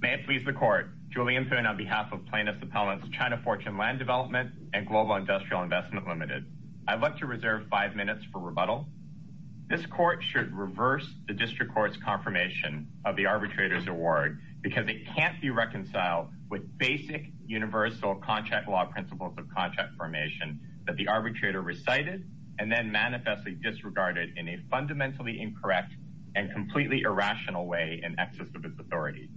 May it please the Court. Julian Poon on behalf of Plaintiff's Appellant's China Fortune Land Development and Global Industrial Investment Limited. I'd like to reserve five minutes for rebuttal. This Court should reverse the District Court's confirmation of the arbitrator's award because it can't be reconciled with basic universal contract law principles of contract formation that the arbitrator recited and then manifestly disregarded in a fundamentally incorrect and completely irrational way in excess of his authority.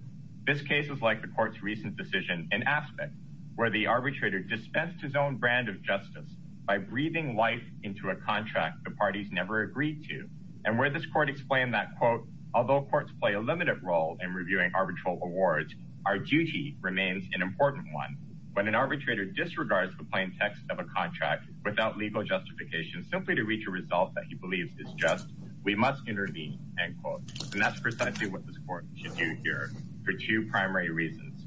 This case is like the Court's recent decision in Aspect, where the arbitrator dispensed his own brand of justice by breathing life into a contract the parties never agreed to, and where this Court explained that, quote, although courts play a limited role in reviewing arbitral awards, our duty remains an important one. When an arbitrator disregards the plain text of a contract without legal justification simply to reach a result that he believes is just, we must intervene, end quote. And that's precisely what this Court should do here for two primary reasons.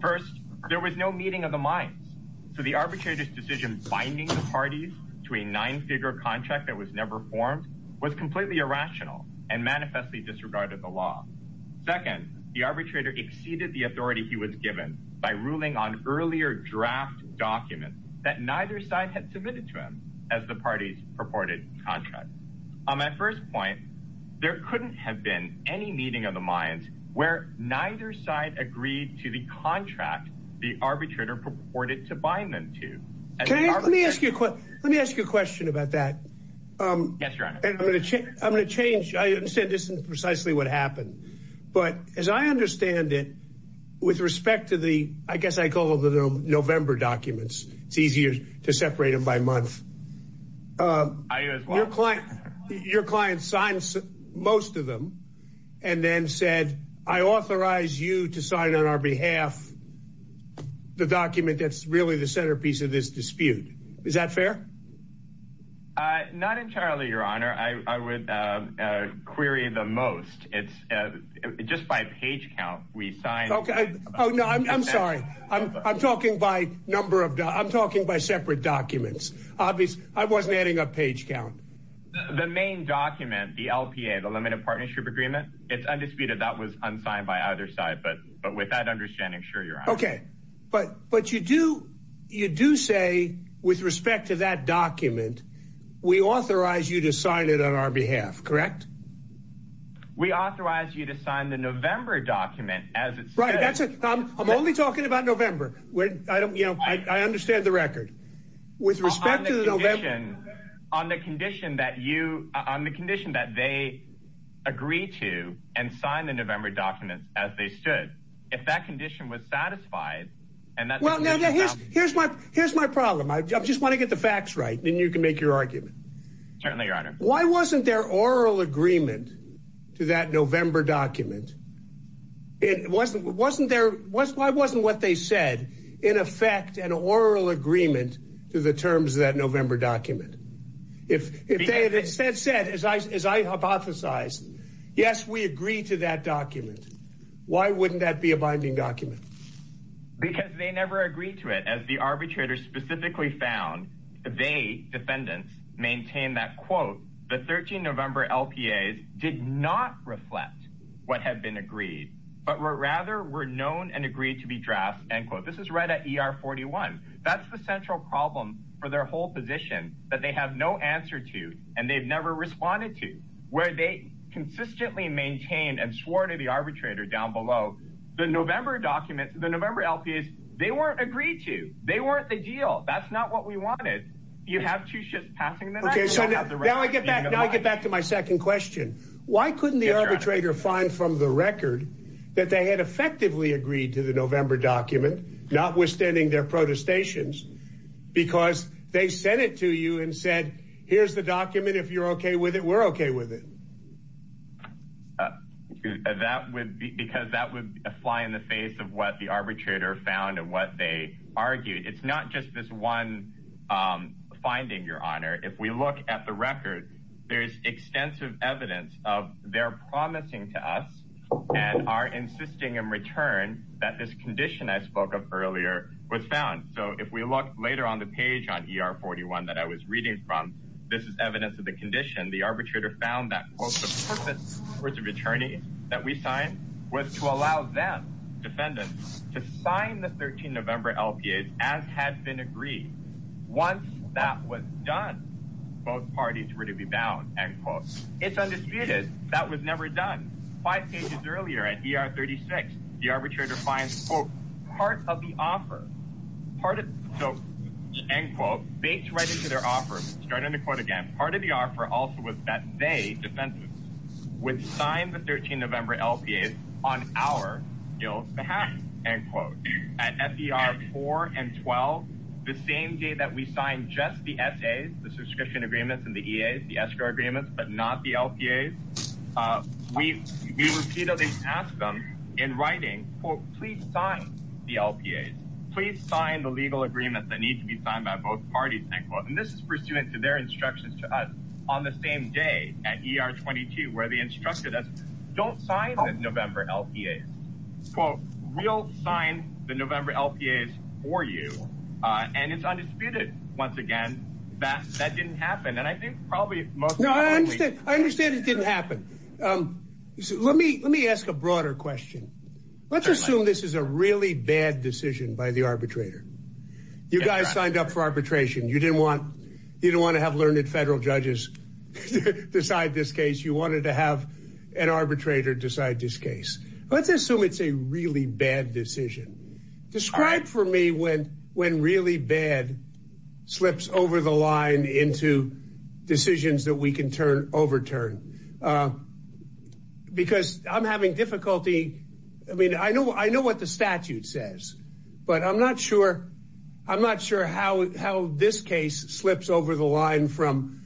First, there was no meeting of the minds. So the arbitrator's decision binding the parties to a nine-figure contract that was never formed was completely irrational and manifestly disregarded the law. Second, the arbitrator exceeded the authority he was given by ruling on earlier draft documents that neither side had submitted to him as the parties purported contract. At first point, there couldn't have been any meeting of the minds where neither side agreed to the contract the arbitrator purported to bind them to. Let me ask you a question about that. I'm going to change, I understand this isn't precisely what happened. But as I understand it, with respect to the, I guess I call them the November documents, it's easier to separate them by month. Your client signed most of them and then said, I authorize you to sign on our behalf the document that's really the centerpiece of this dispute. Is that fair? Not entirely, Your Honor. I would query the most. It's just by page count, we signed... I'm sorry. I'm talking by number of, I'm talking by separate documents. I wasn't adding a page count. The main document, the LPA, the Limited Partnership Agreement, it's undisputed that was unsigned by either side. But with that understanding, sure, Your Honor. But you do, you do say with respect to that document, we authorize you to sign it on our behalf, correct? We authorize you to sign the November document as it's... Right, that's it. I'm only talking about November. I understand the record. With respect to the November... On the condition that you, on the condition that they agree to and sign the November documents as they stood, if that condition was satisfied, and that's what we're talking about... Here's my problem. I just want to get the facts right, then you can make your argument. Certainly, Your Honor. Why wasn't there oral agreement to that November document? It wasn't, wasn't there, why wasn't what they said in effect an oral agreement to the terms of that November document? If they had instead said, as I hypothesized, yes, we agree to that document, why wouldn't that be a binding document? Because they never agreed to it. As the arbitrators specifically found, they, defendants, maintain that, quote, the 13 November LPAs did not reflect what had been agreed, but were rather were known and agreed to be drafts, end quote. This is right at ER 41. That's the central problem for their whole position, that they have no answer to, and they've never responded to. Where they consistently maintained and swore to the arbitrator down below, the November documents, the November LPAs, they weren't agreed to. They weren't the deal. That's not what we wanted. You have two shifts passing the next... Now I get back, now I get back to my second question. Why couldn't the arbitrator find from the record that they had effectively agreed to the November document, notwithstanding their protestations, because they sent it to you and said, here's the document. If you're okay with it, we're okay with it. That would be, because that would fly in the face of what the arbitrator found and what they argued. It's not just this one finding, Your Honor. If we look at the record, there's extensive evidence of their promising to us and are insisting in return that this condition I spoke of earlier was found. So if we look later on the page on ER 41 that I was reading from, this is evidence of the condition. The arbitrator found that, quote, the purpose of attorneys that we signed was to allow them, defendants, to sign the 13 November LPAs as had been agreed. Once that was done, both parties were to be bound, end quote. It's undisputed that was never done. Five pages earlier at ER 36, the arbitrator finds, quote, part of the offer, part of, so, end quote, based right into their offer, starting the would sign the 13 November LPAs on our, you know, behalf, end quote. At FDR 4 and 12, the same day that we signed just the SAs, the subscription agreements and the EAs, the escrow agreements, but not the LPAs, we repeatedly ask them in writing, quote, please sign the LPAs. Please sign the legal agreements that need to be signed by both parties, end quote. This is pursuant to their instructions to us on the same day at ER 22, where the instructor doesn't, don't sign the November LPAs. Quote, we'll sign the November LPAs for you. And it's undisputed, once again, that that didn't happen. And I think probably most... No, I understand. I understand it didn't happen. Let me, let me ask a broader question. Let's assume this is a really bad decision by the arbitrator. You guys signed up for you didn't want to have learned federal judges decide this case. You wanted to have an arbitrator decide this case. Let's assume it's a really bad decision. Describe for me when, when really bad slips over the line into decisions that we can turn, overturn. Because I'm having difficulty. I mean, I know, I know what the statute says, but I'm not sure. I'm not sure how, how this case slips over the line from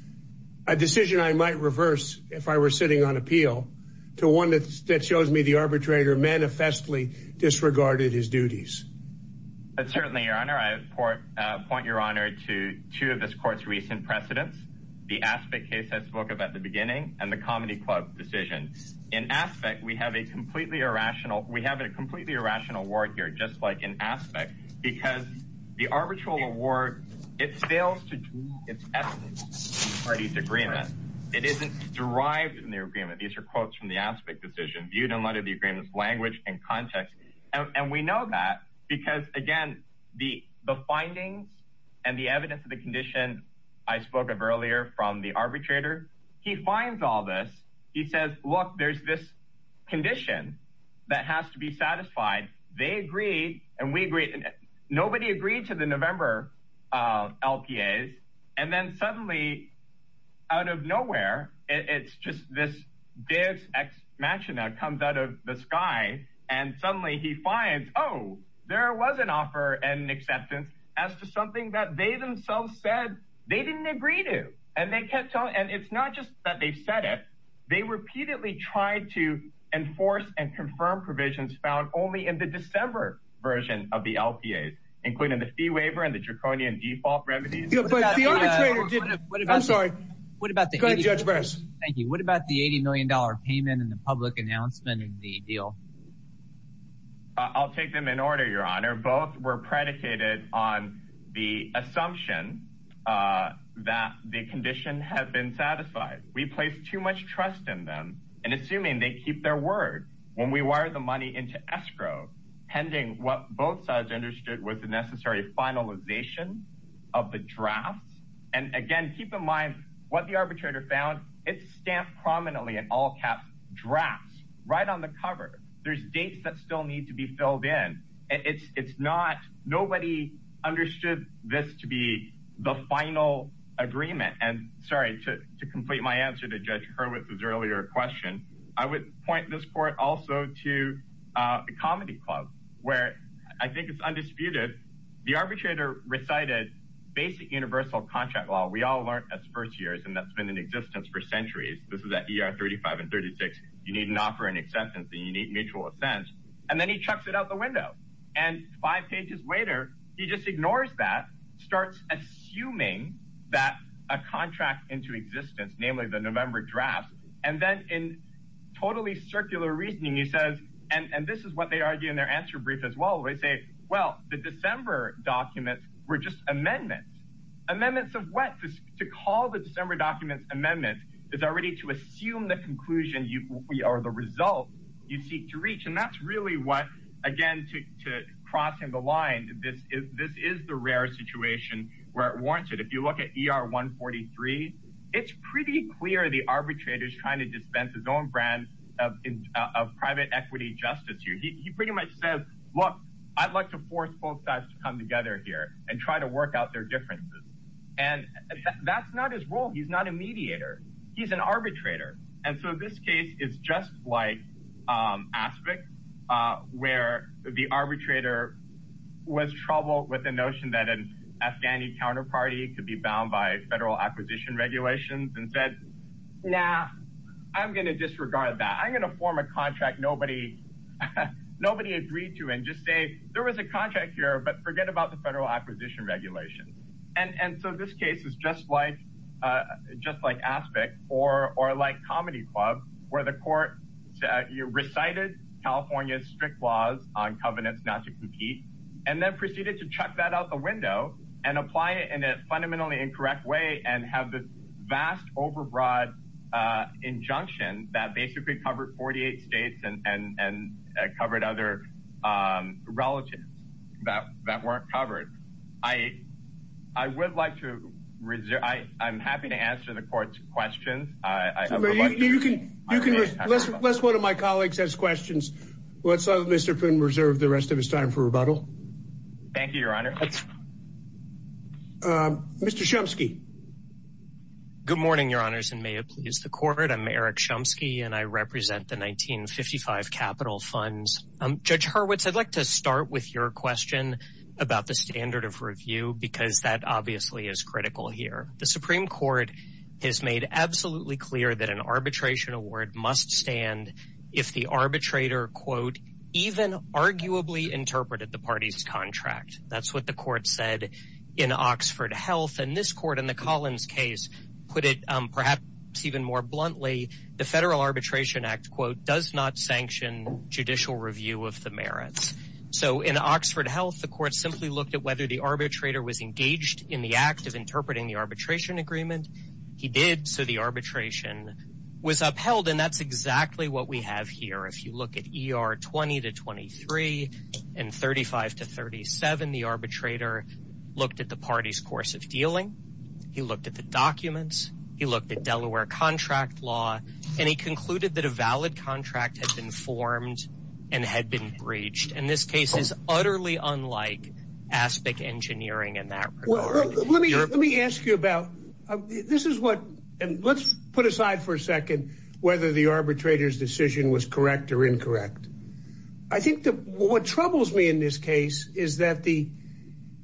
a decision I might reverse if I were sitting on appeal to one that shows me the arbitrator manifestly disregarded his duties. But certainly your honor, I point your honor to two of this court's recent precedents, the aspect case I spoke about the beginning and the comedy club decision. In aspect, we have a completely irrational, we have a completely irrational word here, just like an aspect because the arbitral award, it fails to do its essence in the parties agreement. It isn't derived in the agreement. These are quotes from the aspect decision viewed in light of the agreement's language and context. And we know that because again, the, the findings and the evidence of the condition I spoke of earlier from the arbitrator, he finds all this. He says, look, there's this condition that has to be satisfied. They agree. And we agree. Nobody agreed to the November, uh, LPAs. And then suddenly out of nowhere, it's just this dance X matching that comes out of the sky. And suddenly he finds, Oh, there was an offer and acceptance as to something that they themselves said they didn't agree to. And they kept telling, and it's not just that they've said it. They repeatedly tried to enforce and confirm provisions found only in the December version of the LPAs, including the fee waiver and the draconian default remedies. I'm sorry. What about the judge? Thank you. What about the $80 million payment in the public announcement and the deal? I'll take them in order. Your honor, both were predicated on the assumption, uh, that the condition had been satisfied. We placed too much trust in them and assuming they keep their word when we wire the money into escrow pending, what both sides understood was the necessary finalization of the drafts. And again, keep in mind what the arbitrator found it's stamped prominently and all caps drafts right on the cover. There's dates that still need to be filled in. It's, it's not, nobody understood this to be the final agreement and sorry to, to complete my answer to judge her with his earlier question. I would point this court also to a comedy club where I think it's undisputed. The arbitrator recited basic universal contract law. We all learned as first years, and that's been in existence for centuries. This is at ER 35 and 36. You need an offer and acceptance and you need mutual assent. And then he chucks it out the window and five pages later, he just ignores that starts assuming that a contract into existence, namely the November draft. And then in totally circular reasoning, he says, and this is what they argue in their answer brief as well. They say, well, the December documents were just amendments amendments of what to call the December documents amendments is already to assume the conclusion you are the result you seek to reach. And that's really what, again, to, to crossing the line. This is, this is the rare situation where it warrants it. If you look at ER 143, it's pretty clear. The arbitrator is trying to dispense his own brand of, of private equity justice. He pretty much says, look, I'd like to force both sides to come together here and try to work out their differences. And that's not his role. He's not a mediator. He's an arbitrator. And so this case is just like aspects where the arbitrator was troubled with the notion that an Afghani counterparty could be bound by federal acquisition regulations and said, nah, I'm going to disregard that. I'm going to form a contract. Nobody, nobody agreed to, and just say there was a contract here, but forget about the federal acquisition regulations. And so this case is just like, just like aspect or, or like comedy club where the court recited California's strict laws on covenants not to compete, and then proceeded to check that out the window and apply it in a fundamentally incorrect way and have this vast overbroad injunction that basically covered 48 states and, and, and covered other relatives that, that weren't covered. I, I would like to reserve, I, I'm happy to answer the court's questions. You can, you can, let's, let's, one of my colleagues has questions. Let's let Mr. Poon reserve the rest of his time for rebuttal. Thank you, your honor. Mr. Chomsky. Good morning, your honors, and may it please the court. I'm Eric Chomsky and I represent the 1955 capital funds. Judge Hurwitz, I'd like to start with your question about the standard of review, because that obviously is critical here. The Supreme court has made absolutely clear that an arbitration award must stand. If the arbitrator quote, even arguably interpreted the party's contract, that's what the court said in Oxford health. And this court in the Collins case, put it perhaps even more bluntly, the federal arbitration act quote, does not sanction judicial review of the merits. So in Oxford health, the court simply looked at whether the arbitrator was engaged in the act of interpreting the arbitration agreement. He did. So the arbitration was upheld and that's exactly what we have here. If you look at ER 20 to 23 and 35 to 37, the arbitrator looked at the party's course of dealing. He looked at the and had been breached. And this case is utterly unlike aspic engineering in that. Let me ask you about this is what, and let's put aside for a second, whether the arbitrator's decision was correct or incorrect. I think that what troubles me in this case is that the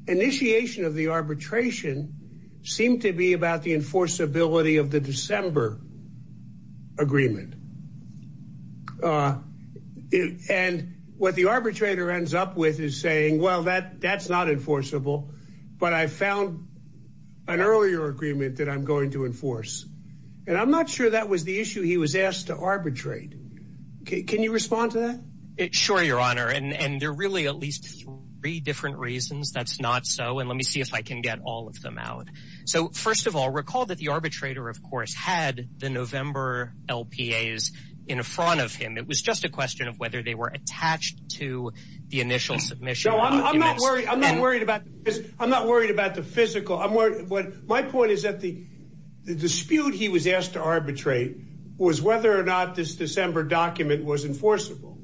initiation of the arbitration seemed to be about the enforceability of the December agreement. And what the arbitrator ends up with is saying, well, that that's not enforceable, but I found an earlier agreement that I'm going to enforce. And I'm not sure that was the issue he was asked to arbitrate. Can you respond to that? Sure, your honor. And there are really at least three different reasons that's not so. And let me see if I can get all of them out. So first of all, recall that the arbitrator, of course, had the November LPAs in front of him. It was just a question of whether they were attached to the initial submission. I'm not worried. I'm not worried about this. I'm not worried about the physical. I'm worried. But my point is that the dispute he was asked to arbitrate was whether or not this December document was enforceable.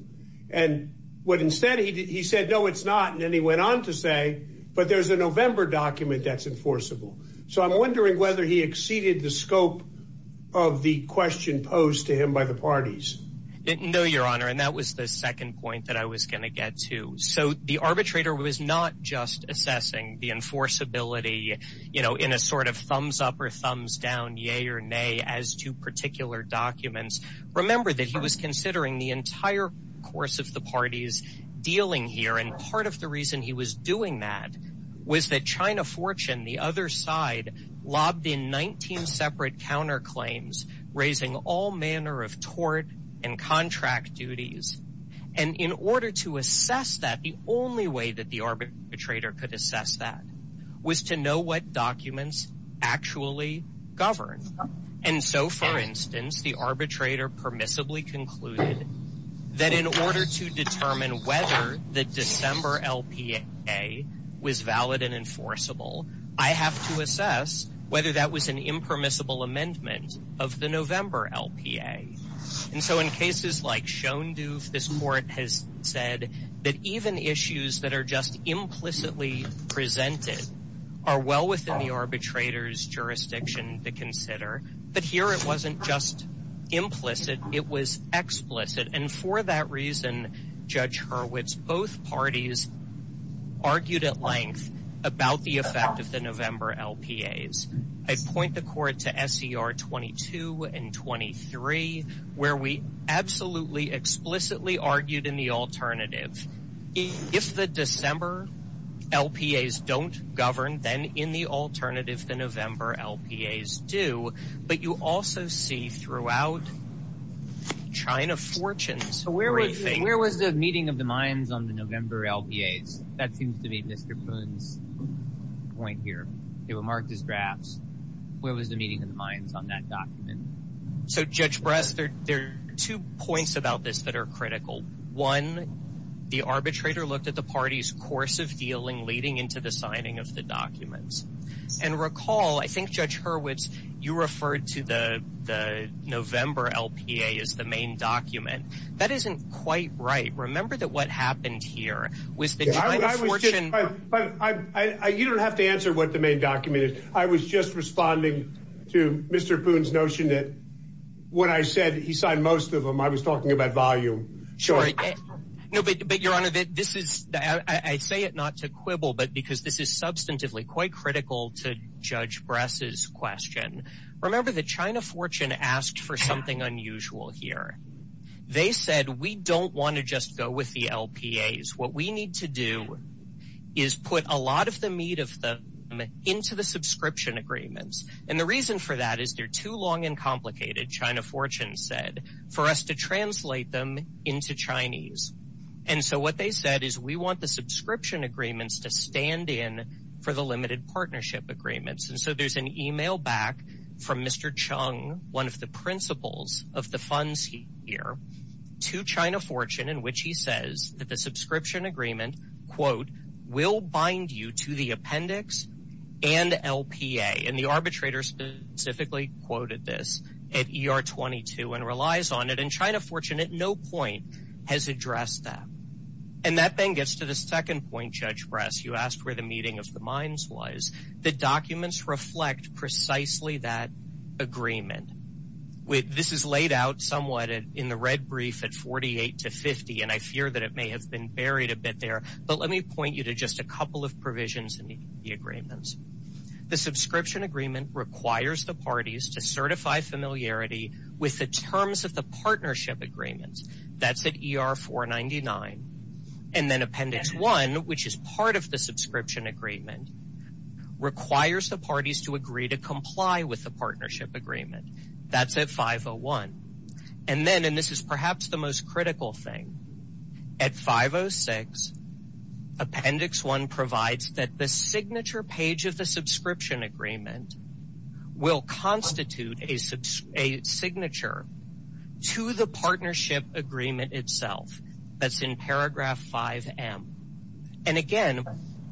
And what instead he did, he said, no, it's not. And then he went on to say, but there's a November document that's enforceable. So I'm wondering whether he exceeded the scope of the question posed to him by the parties. No, your honor. And that was the second point that I was going to get to. So the arbitrator was not just assessing the enforceability, you know, in a sort of thumbs up or thumbs down, yay or nay, as to particular documents. Remember that he was considering the entire course of the parties dealing here. And part of the reason he was doing that was that China Fortune, the other side, lobbed in 19 separate counterclaims, raising all manner of tort and contract duties. And in order to assess that, the only way that the arbitrator could assess that was to know what documents actually govern. And so, for instance, the arbitrator permissibly concluded that in order to determine whether the December LPA was valid and enforceable, I have to assess whether that was an impermissible amendment of the November LPA. And so in cases like Shone Duve, this court has said that even issues that are just implicitly presented are well within the arbitrator's jurisdiction to consider. But here it wasn't just implicit, it was explicit. And for that reason, Judge Hurwitz, both parties argued at length about the effect of the November LPAs. I point the court to SCR 22 and 23, where we absolutely explicitly argued in the alternative. If the December LPAs don't govern, then in the throughout China Fortunes. So where was the meeting of the minds on the November LPAs? That seems to be Mr. Poon's point here. They were marked as drafts. Where was the meeting of the minds on that document? So, Judge Brass, there are two points about this that are critical. One, the arbitrator looked at the party's course of dealing leading into the signing of the November LPA as the main document. That isn't quite right. Remember that what happened here was that China Fortune... You don't have to answer what the main document is. I was just responding to Mr. Poon's notion that when I said he signed most of them, I was talking about volume. Sure. No, but Your Honor, I say it not to quibble, but because this is substantively quite critical to Judge Brass's question. Remember that China Fortune asked for something unusual here. They said, we don't want to just go with the LPAs. What we need to do is put a lot of the meat of them into the subscription agreements. And the reason for that is they're too long and complicated, China Fortune said, for us to translate them into Chinese. And so what they said is we want subscription agreements to stand in for the limited partnership agreements. And so there's an email back from Mr. Chung, one of the principals of the funds here, to China Fortune in which he says that the subscription agreement, quote, will bind you to the appendix and LPA. And the arbitrator specifically quoted this at ER 22 and relies on it. And China Fortune at no point has addressed that. And that then gets to the second point, Judge Brass, you asked where the meeting of the minds was. The documents reflect precisely that agreement. This is laid out somewhat in the red brief at 48 to 50, and I fear that it may have been buried a bit there, but let me point you to just a couple of provisions in the agreements. The subscription agreement requires the parties to certify familiarity with the terms of the partnership agreements. That's at ER 499. And then appendix one, which is part of the subscription agreement, requires the parties to agree to comply with the partnership agreement. That's at 501. And then, and this is perhaps the most critical thing, at 506, appendix one provides that the signature agreement itself, that's in paragraph 5M. And again,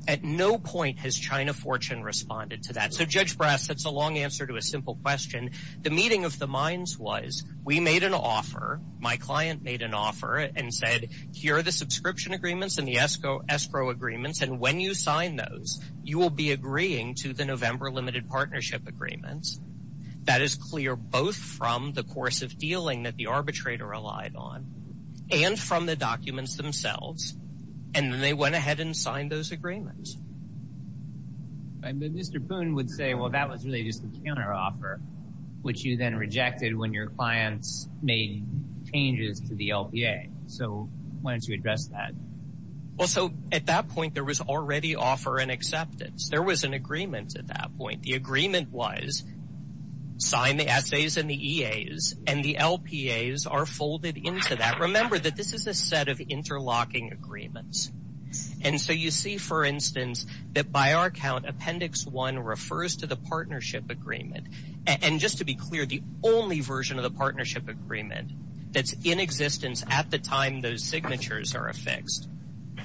at no point has China Fortune responded to that. So Judge Brass, that's a long answer to a simple question. The meeting of the minds was, we made an offer, my client made an offer and said, here are the subscription agreements and the escrow agreements. And when you sign those, you will be agreeing to the November limited partnership agreements. That is clear both from the course of dealing that the arbitrator relied on and from the documents themselves. And then they went ahead and signed those agreements. Right, but Mr. Poon would say, well, that was really just a counter offer, which you then rejected when your clients made changes to the LPA. So why don't you address that? Well, so at that point, there was already offer and acceptance. There was an agreement at that point. The agreement was, sign the essays and the EAs and the LPAs are folded into that. Remember that this is a set of interlocking agreements. And so you see, for instance, that by our account, appendix one refers to the partnership agreement. And just to be clear, the only version of the partnership agreement that's in existence at the time those signatures are affixed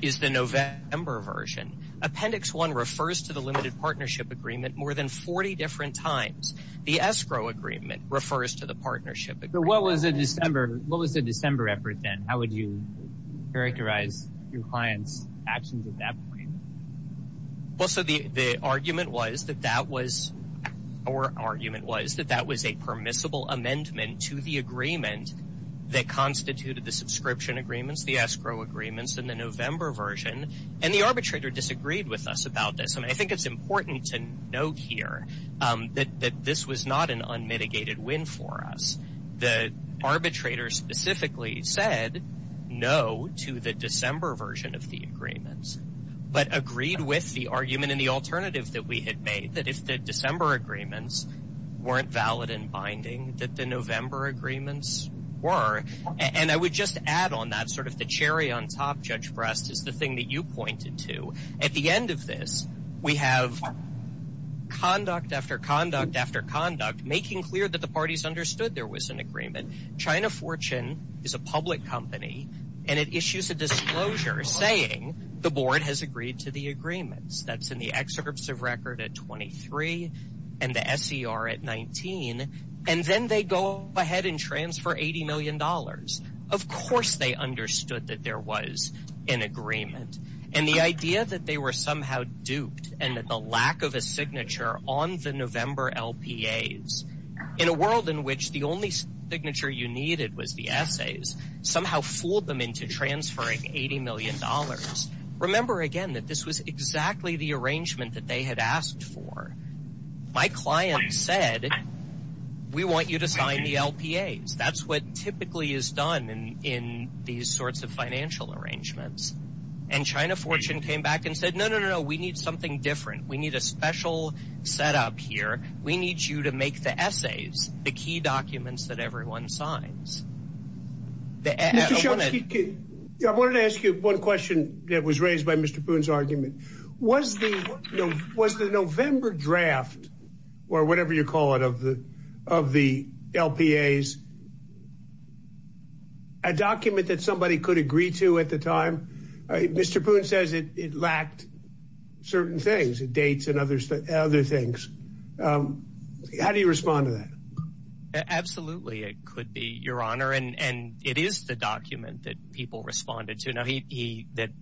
is the November version. Appendix one refers to the limited partnership agreement more than 40 different times. The escrow agreement refers to the partnership. But what was the December? What was the December effort then? How would you characterize your clients actions at that point? Well, so the argument was that that was our argument was that that was a permissible amendment to the agreement that constituted the subscription agreements, the escrow agreements, and the November version. And the arbitrator disagreed with us about this. And I think it's important to note here that this was not an unmitigated win for us. The arbitrator specifically said no to the December version of the agreements, but agreed with the argument and the alternative that we had made that if the December agreements weren't valid and binding that the November agreements were. And I would just add on that sort of the cherry on top, Judge Brest, is the thing that you pointed to. At the end of this, we have conduct after conduct after conduct making clear that the parties understood there was an agreement. China Fortune is a public company, and it issues a disclosure saying the board has agreed to the agreements. That's in the excerpts of record at 23 and the SER at 19. And then they go ahead and transfer 80 million dollars. Of course they understood that there was an agreement. And the idea that they were somehow duped, and that the lack of a signature on the November LPAs, in a world in which the only signature you needed was the essays, somehow fooled them into transferring 80 million dollars. Remember again that this was exactly the arrangement that they had asked for. My client said, we want you to sign the LPAs. That's what typically is done in these sorts of financial arrangements. And China Fortune came back and said, no, no, no, we need something different. We need a special setup here. We need you to make the essays, the key documents that everyone signs. I wanted to ask you one question that was raised by Mr. Poon's argument. Was the November draft, or whatever you call it, of the LPAs a document that somebody could agree to at the time? Mr. Poon says it lacked certain things, dates and other things. How do you respond to that? Absolutely, it could be, Your Honor. And it is the document that people responded to, that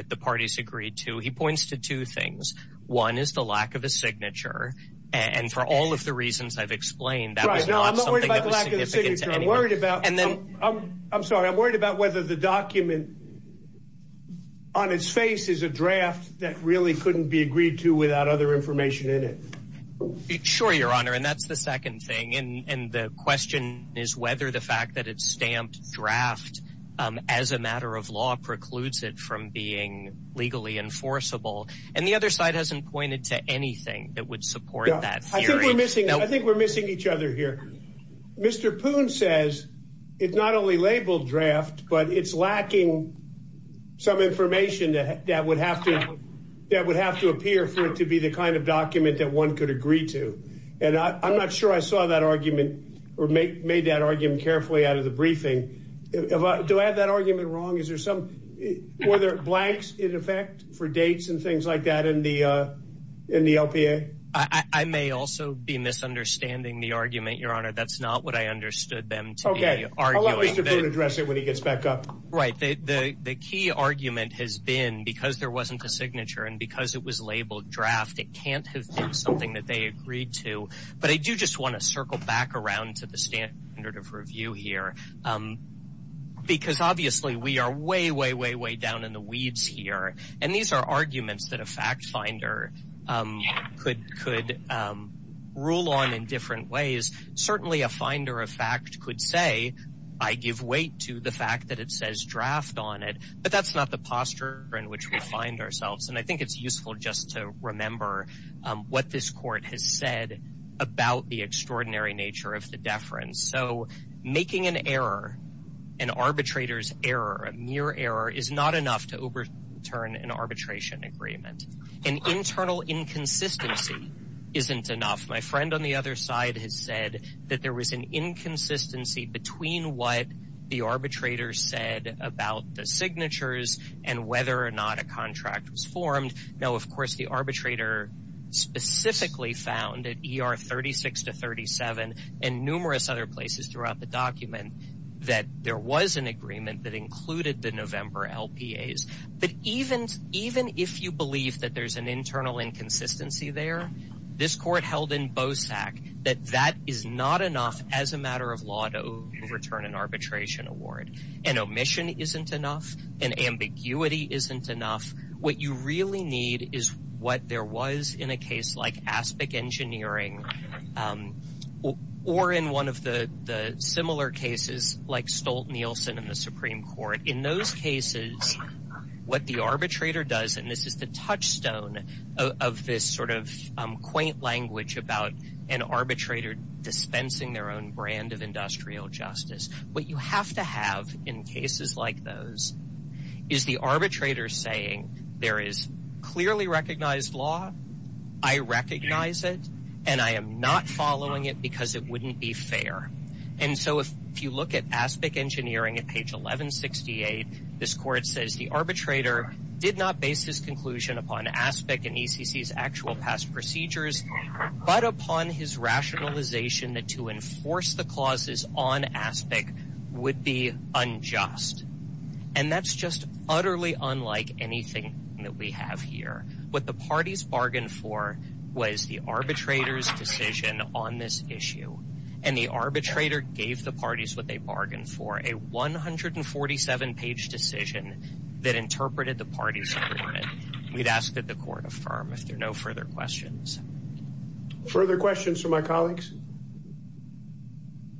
the parties agreed to. He points to two things. One is the lack of a signature. And for all of the reasons I've explained, that was not something that was significant to anyone. Right, I'm not worried about the lack of a signature. I'm worried about whether the document on its face is a draft that really couldn't be agreed to without other information in it. Sure, Your Honor. And that's the second thing. And the question is whether the fact that it's stamped draft as a matter of law precludes it from being legally enforceable. And the other side hasn't pointed to anything that would support that theory. No, I think we're missing each other here. Mr. Poon says it's not only labeled draft, but it's lacking some information that would have to appear for it to be the kind of document that one could agree to. And I'm not sure I saw that argument or made that argument carefully out of the briefing. Do I have that argument wrong? Were there blanks in effect for dates and things like that in the LPA? I may also be misunderstanding the argument, Your Honor. That's not what I understood them to be arguing. Okay, I'll let Mr. Poon address it when he gets back up. Right, the key argument has been because there wasn't a signature and because it was labeled draft, it can't have been something that they agreed to. But I do just want to circle back around to the standard of review here. Because obviously, we are way, way, way, way down in the weeds here. And these are arguments that a fact finder could rule on in different ways. Certainly, a finder of fact could say, I give weight to the And I think it's useful just to remember what this court has said about the extraordinary nature of the deference. So making an error, an arbitrator's error, a mere error is not enough to overturn an arbitration agreement. An internal inconsistency isn't enough. My friend on the other side has said that there was an inconsistency between what the arbitrator said about the Now, of course, the arbitrator specifically found at ER 36 to 37 and numerous other places throughout the document that there was an agreement that included the November LPAs. But even if you believe that there's an internal inconsistency there, this court held in BOSAC that that is not enough as a matter of law to overturn an arbitration award. An omission isn't enough. An ambiguity isn't enough. What you really need is what there was in a case like ASPIC engineering or in one of the similar cases like Stolt-Nielsen in the Supreme Court. In those cases, what the arbitrator does, and this is the touchstone of this sort of quaint language about an arbitrator dispensing their own brand of industrial justice. What you have to have in cases like those is the arbitrator saying there is clearly recognized law, I recognize it, and I am not following it because it wouldn't be fair. And so if you look at ASPIC engineering at page 1168, this court says the arbitrator did not base his conclusion upon ASPIC and ECC's actual past procedures, but upon his would be unjust. And that's just utterly unlike anything that we have here. What the parties bargained for was the arbitrator's decision on this issue, and the arbitrator gave the parties what they bargained for, a 147-page decision that interpreted the party's agreement. We'd ask that the court affirm if there are no further questions. Further questions from my colleagues?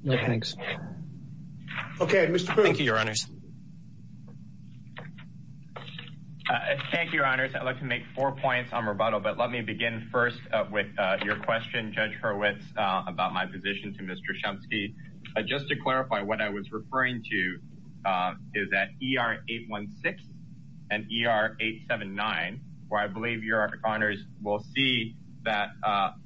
No, thanks. Okay, Mr. Boone. Thank you, Your Honors. Thank you, Your Honors. I'd like to make four points on rebuttal, but let me begin first with your question, Judge Hurwitz, about my position to Mr. Chomsky. Just to clarify, what I was referring to is that ER-816 and ER-879, where I believe Your Honors will see that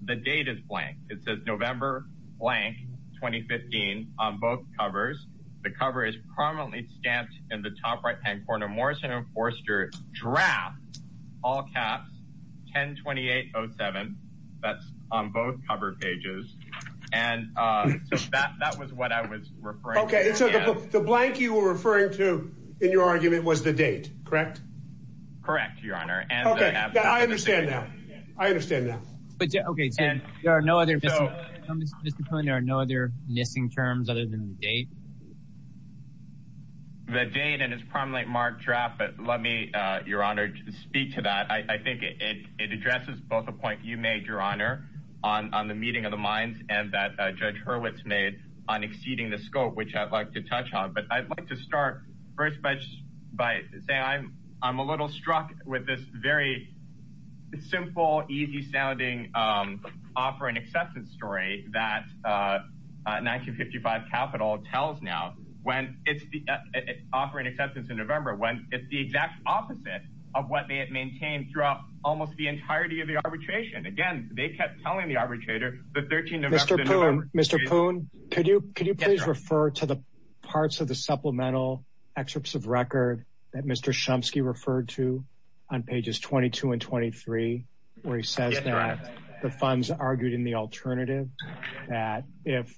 the date is blank. It says November blank, 2015, on both covers. The cover is prominently stamped in the top right-hand corner, MORRISON & FORSTER DRAFT, all caps, 10-28-07. That's on both cover pages. And so that was what I was referring to. Okay, so the blank you were referring to in your argument was the date, correct? Correct, Your Honor. Okay, I understand now. I understand now. Okay, so there are no other missing terms other than the date? The date and it's prominently marked draft, but let me, Your Honor, speak to that. I think it addresses both the point you made, Your Honor, on the meeting of the minds and that Judge Hurwitz made on exceeding the scope, which I'd like to touch on. But I'd like to start first by saying I'm a little struck with this very simple, easy-sounding offer and acceptance story that 1955 Capitol tells now, when it's the offer and acceptance in November, when it's the exact opposite of what they had maintained throughout almost the entirety of the arbitration. Again, they kept telling the arbitrator the 13th of November. Mr. Poon, could you please refer to parts of the supplemental excerpts of record that Mr. Shumsky referred to on pages 22 and 23, where he says that the funds argued in the alternative, that if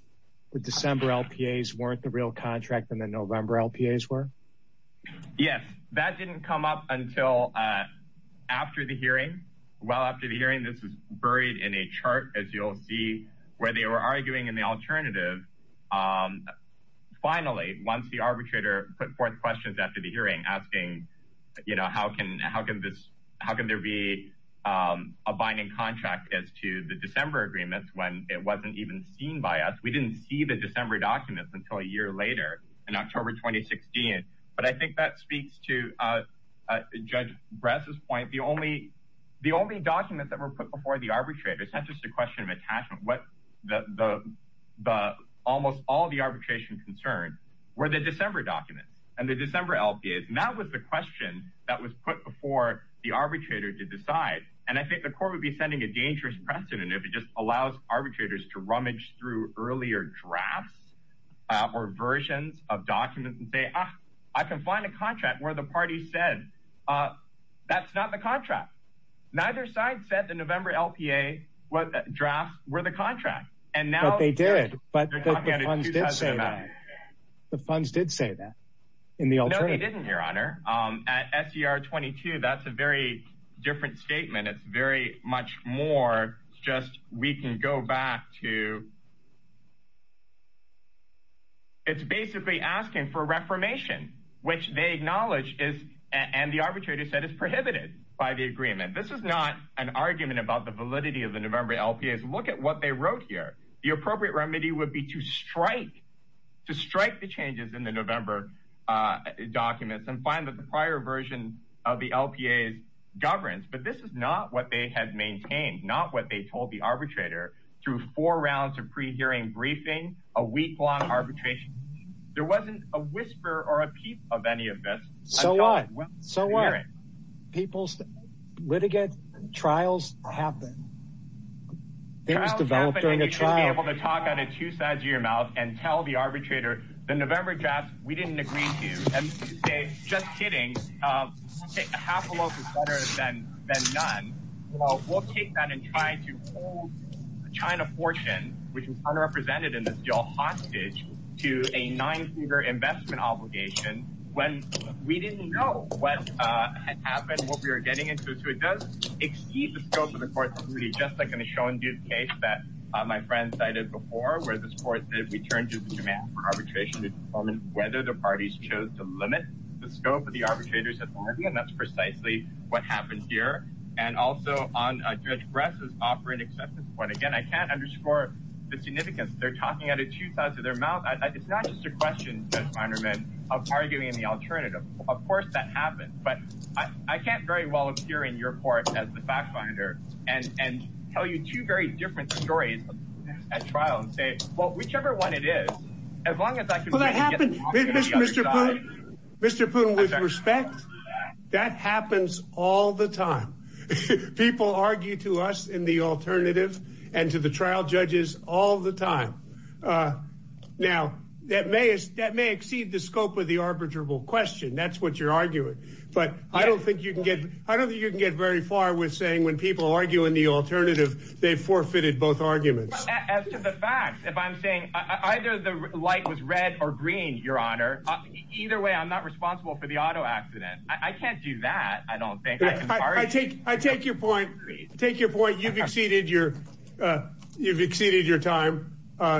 the December LPAs weren't the real contract and the November LPAs were? Yes, that didn't come up until after the hearing. Well, after the hearing, this is buried in a chart, as you'll see, where they were arguing in the alternative. Finally, once the arbitrator put forth questions after the hearing, asking, you know, how can there be a binding contract as to the December agreements when it wasn't even seen by us? We didn't see the December documents until a year later in October 2016. But I think that speaks to Judge Bress's point. The only document that was put before the arbitrators, not just a question of attachment, almost all the arbitration concerns were the December documents and the December LPAs. That was the question that was put before the arbitrator to decide. I think the court would be sending a dangerous precedent if it just allows arbitrators to rummage through earlier drafts or versions of documents and say, I can find a contract where the party said that's not the contract. Neither side said the November LPA drafts were the contract. But they did. The funds did say that. No, they didn't, Your Honor. At SER 22, that's a very different statement. It's very much more just we can go back to, it's basically asking for reformation, which they acknowledge is, and the arbitrator said, is prohibited by the agreement. This is not an argument about the validity of the November LPAs. Look at what they wrote here. The appropriate remedy would be to strike, to strike the changes in the November documents and find that the prior version of the LPAs governs. But this is not what they had maintained, not what they told the arbitrator through four rounds of pre-hearing briefing, a week-long arbitration. There wasn't a whisper or a peep of any of this. So what? People's litigant trials happen. Things develop during a trial. You should be able to talk out of two sides of your mouth and tell the arbitrator, the November drafts, we didn't agree to. Just kidding. Half a loaf is better than none. We'll take that and try to hold the China portion, which is unrepresented in this deal, hostage to a nine-figure investment obligation when we didn't know what had happened, what we were getting into. So it does exceed the scope of the court's duty, just like in the Schon-Duke case that my friend cited before, where this turned to the demand for arbitration to determine whether the parties chose to limit the scope of the arbitrator's authority, and that's precisely what happened here. And also, Judge Bress is offering acceptance of court. Again, I can't underscore the significance. They're talking out of two sides of their mouth. It's not just a question, Judge Meinerman, of arguing the alternative. Of course that happens. But I can't very well appear in your court as the fact finder and tell you two very different stories at trial and say, well, whichever one it is, as long as I can get the opposite of the other side. Mr. Poon, with respect, that happens all the time. People argue to us in the alternative and to the trial judges all the time. Now, that may exceed the scope of the arbitrable question. That's what you're arguing. But I don't think you can get very far with saying when people argue in the alternative, they've forfeited both arguments. As to the fact, if I'm saying either the light was red or green, your honor, either way, I'm not responsible for the auto accident. I can't do that, I don't think. I take your point. You've exceeded your time.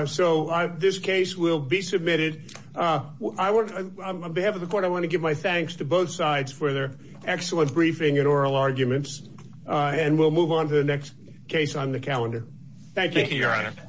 So this case will be thanks to both sides for their excellent briefing and oral arguments. And we'll move on to the next case on the calendar. Thank you, your honor.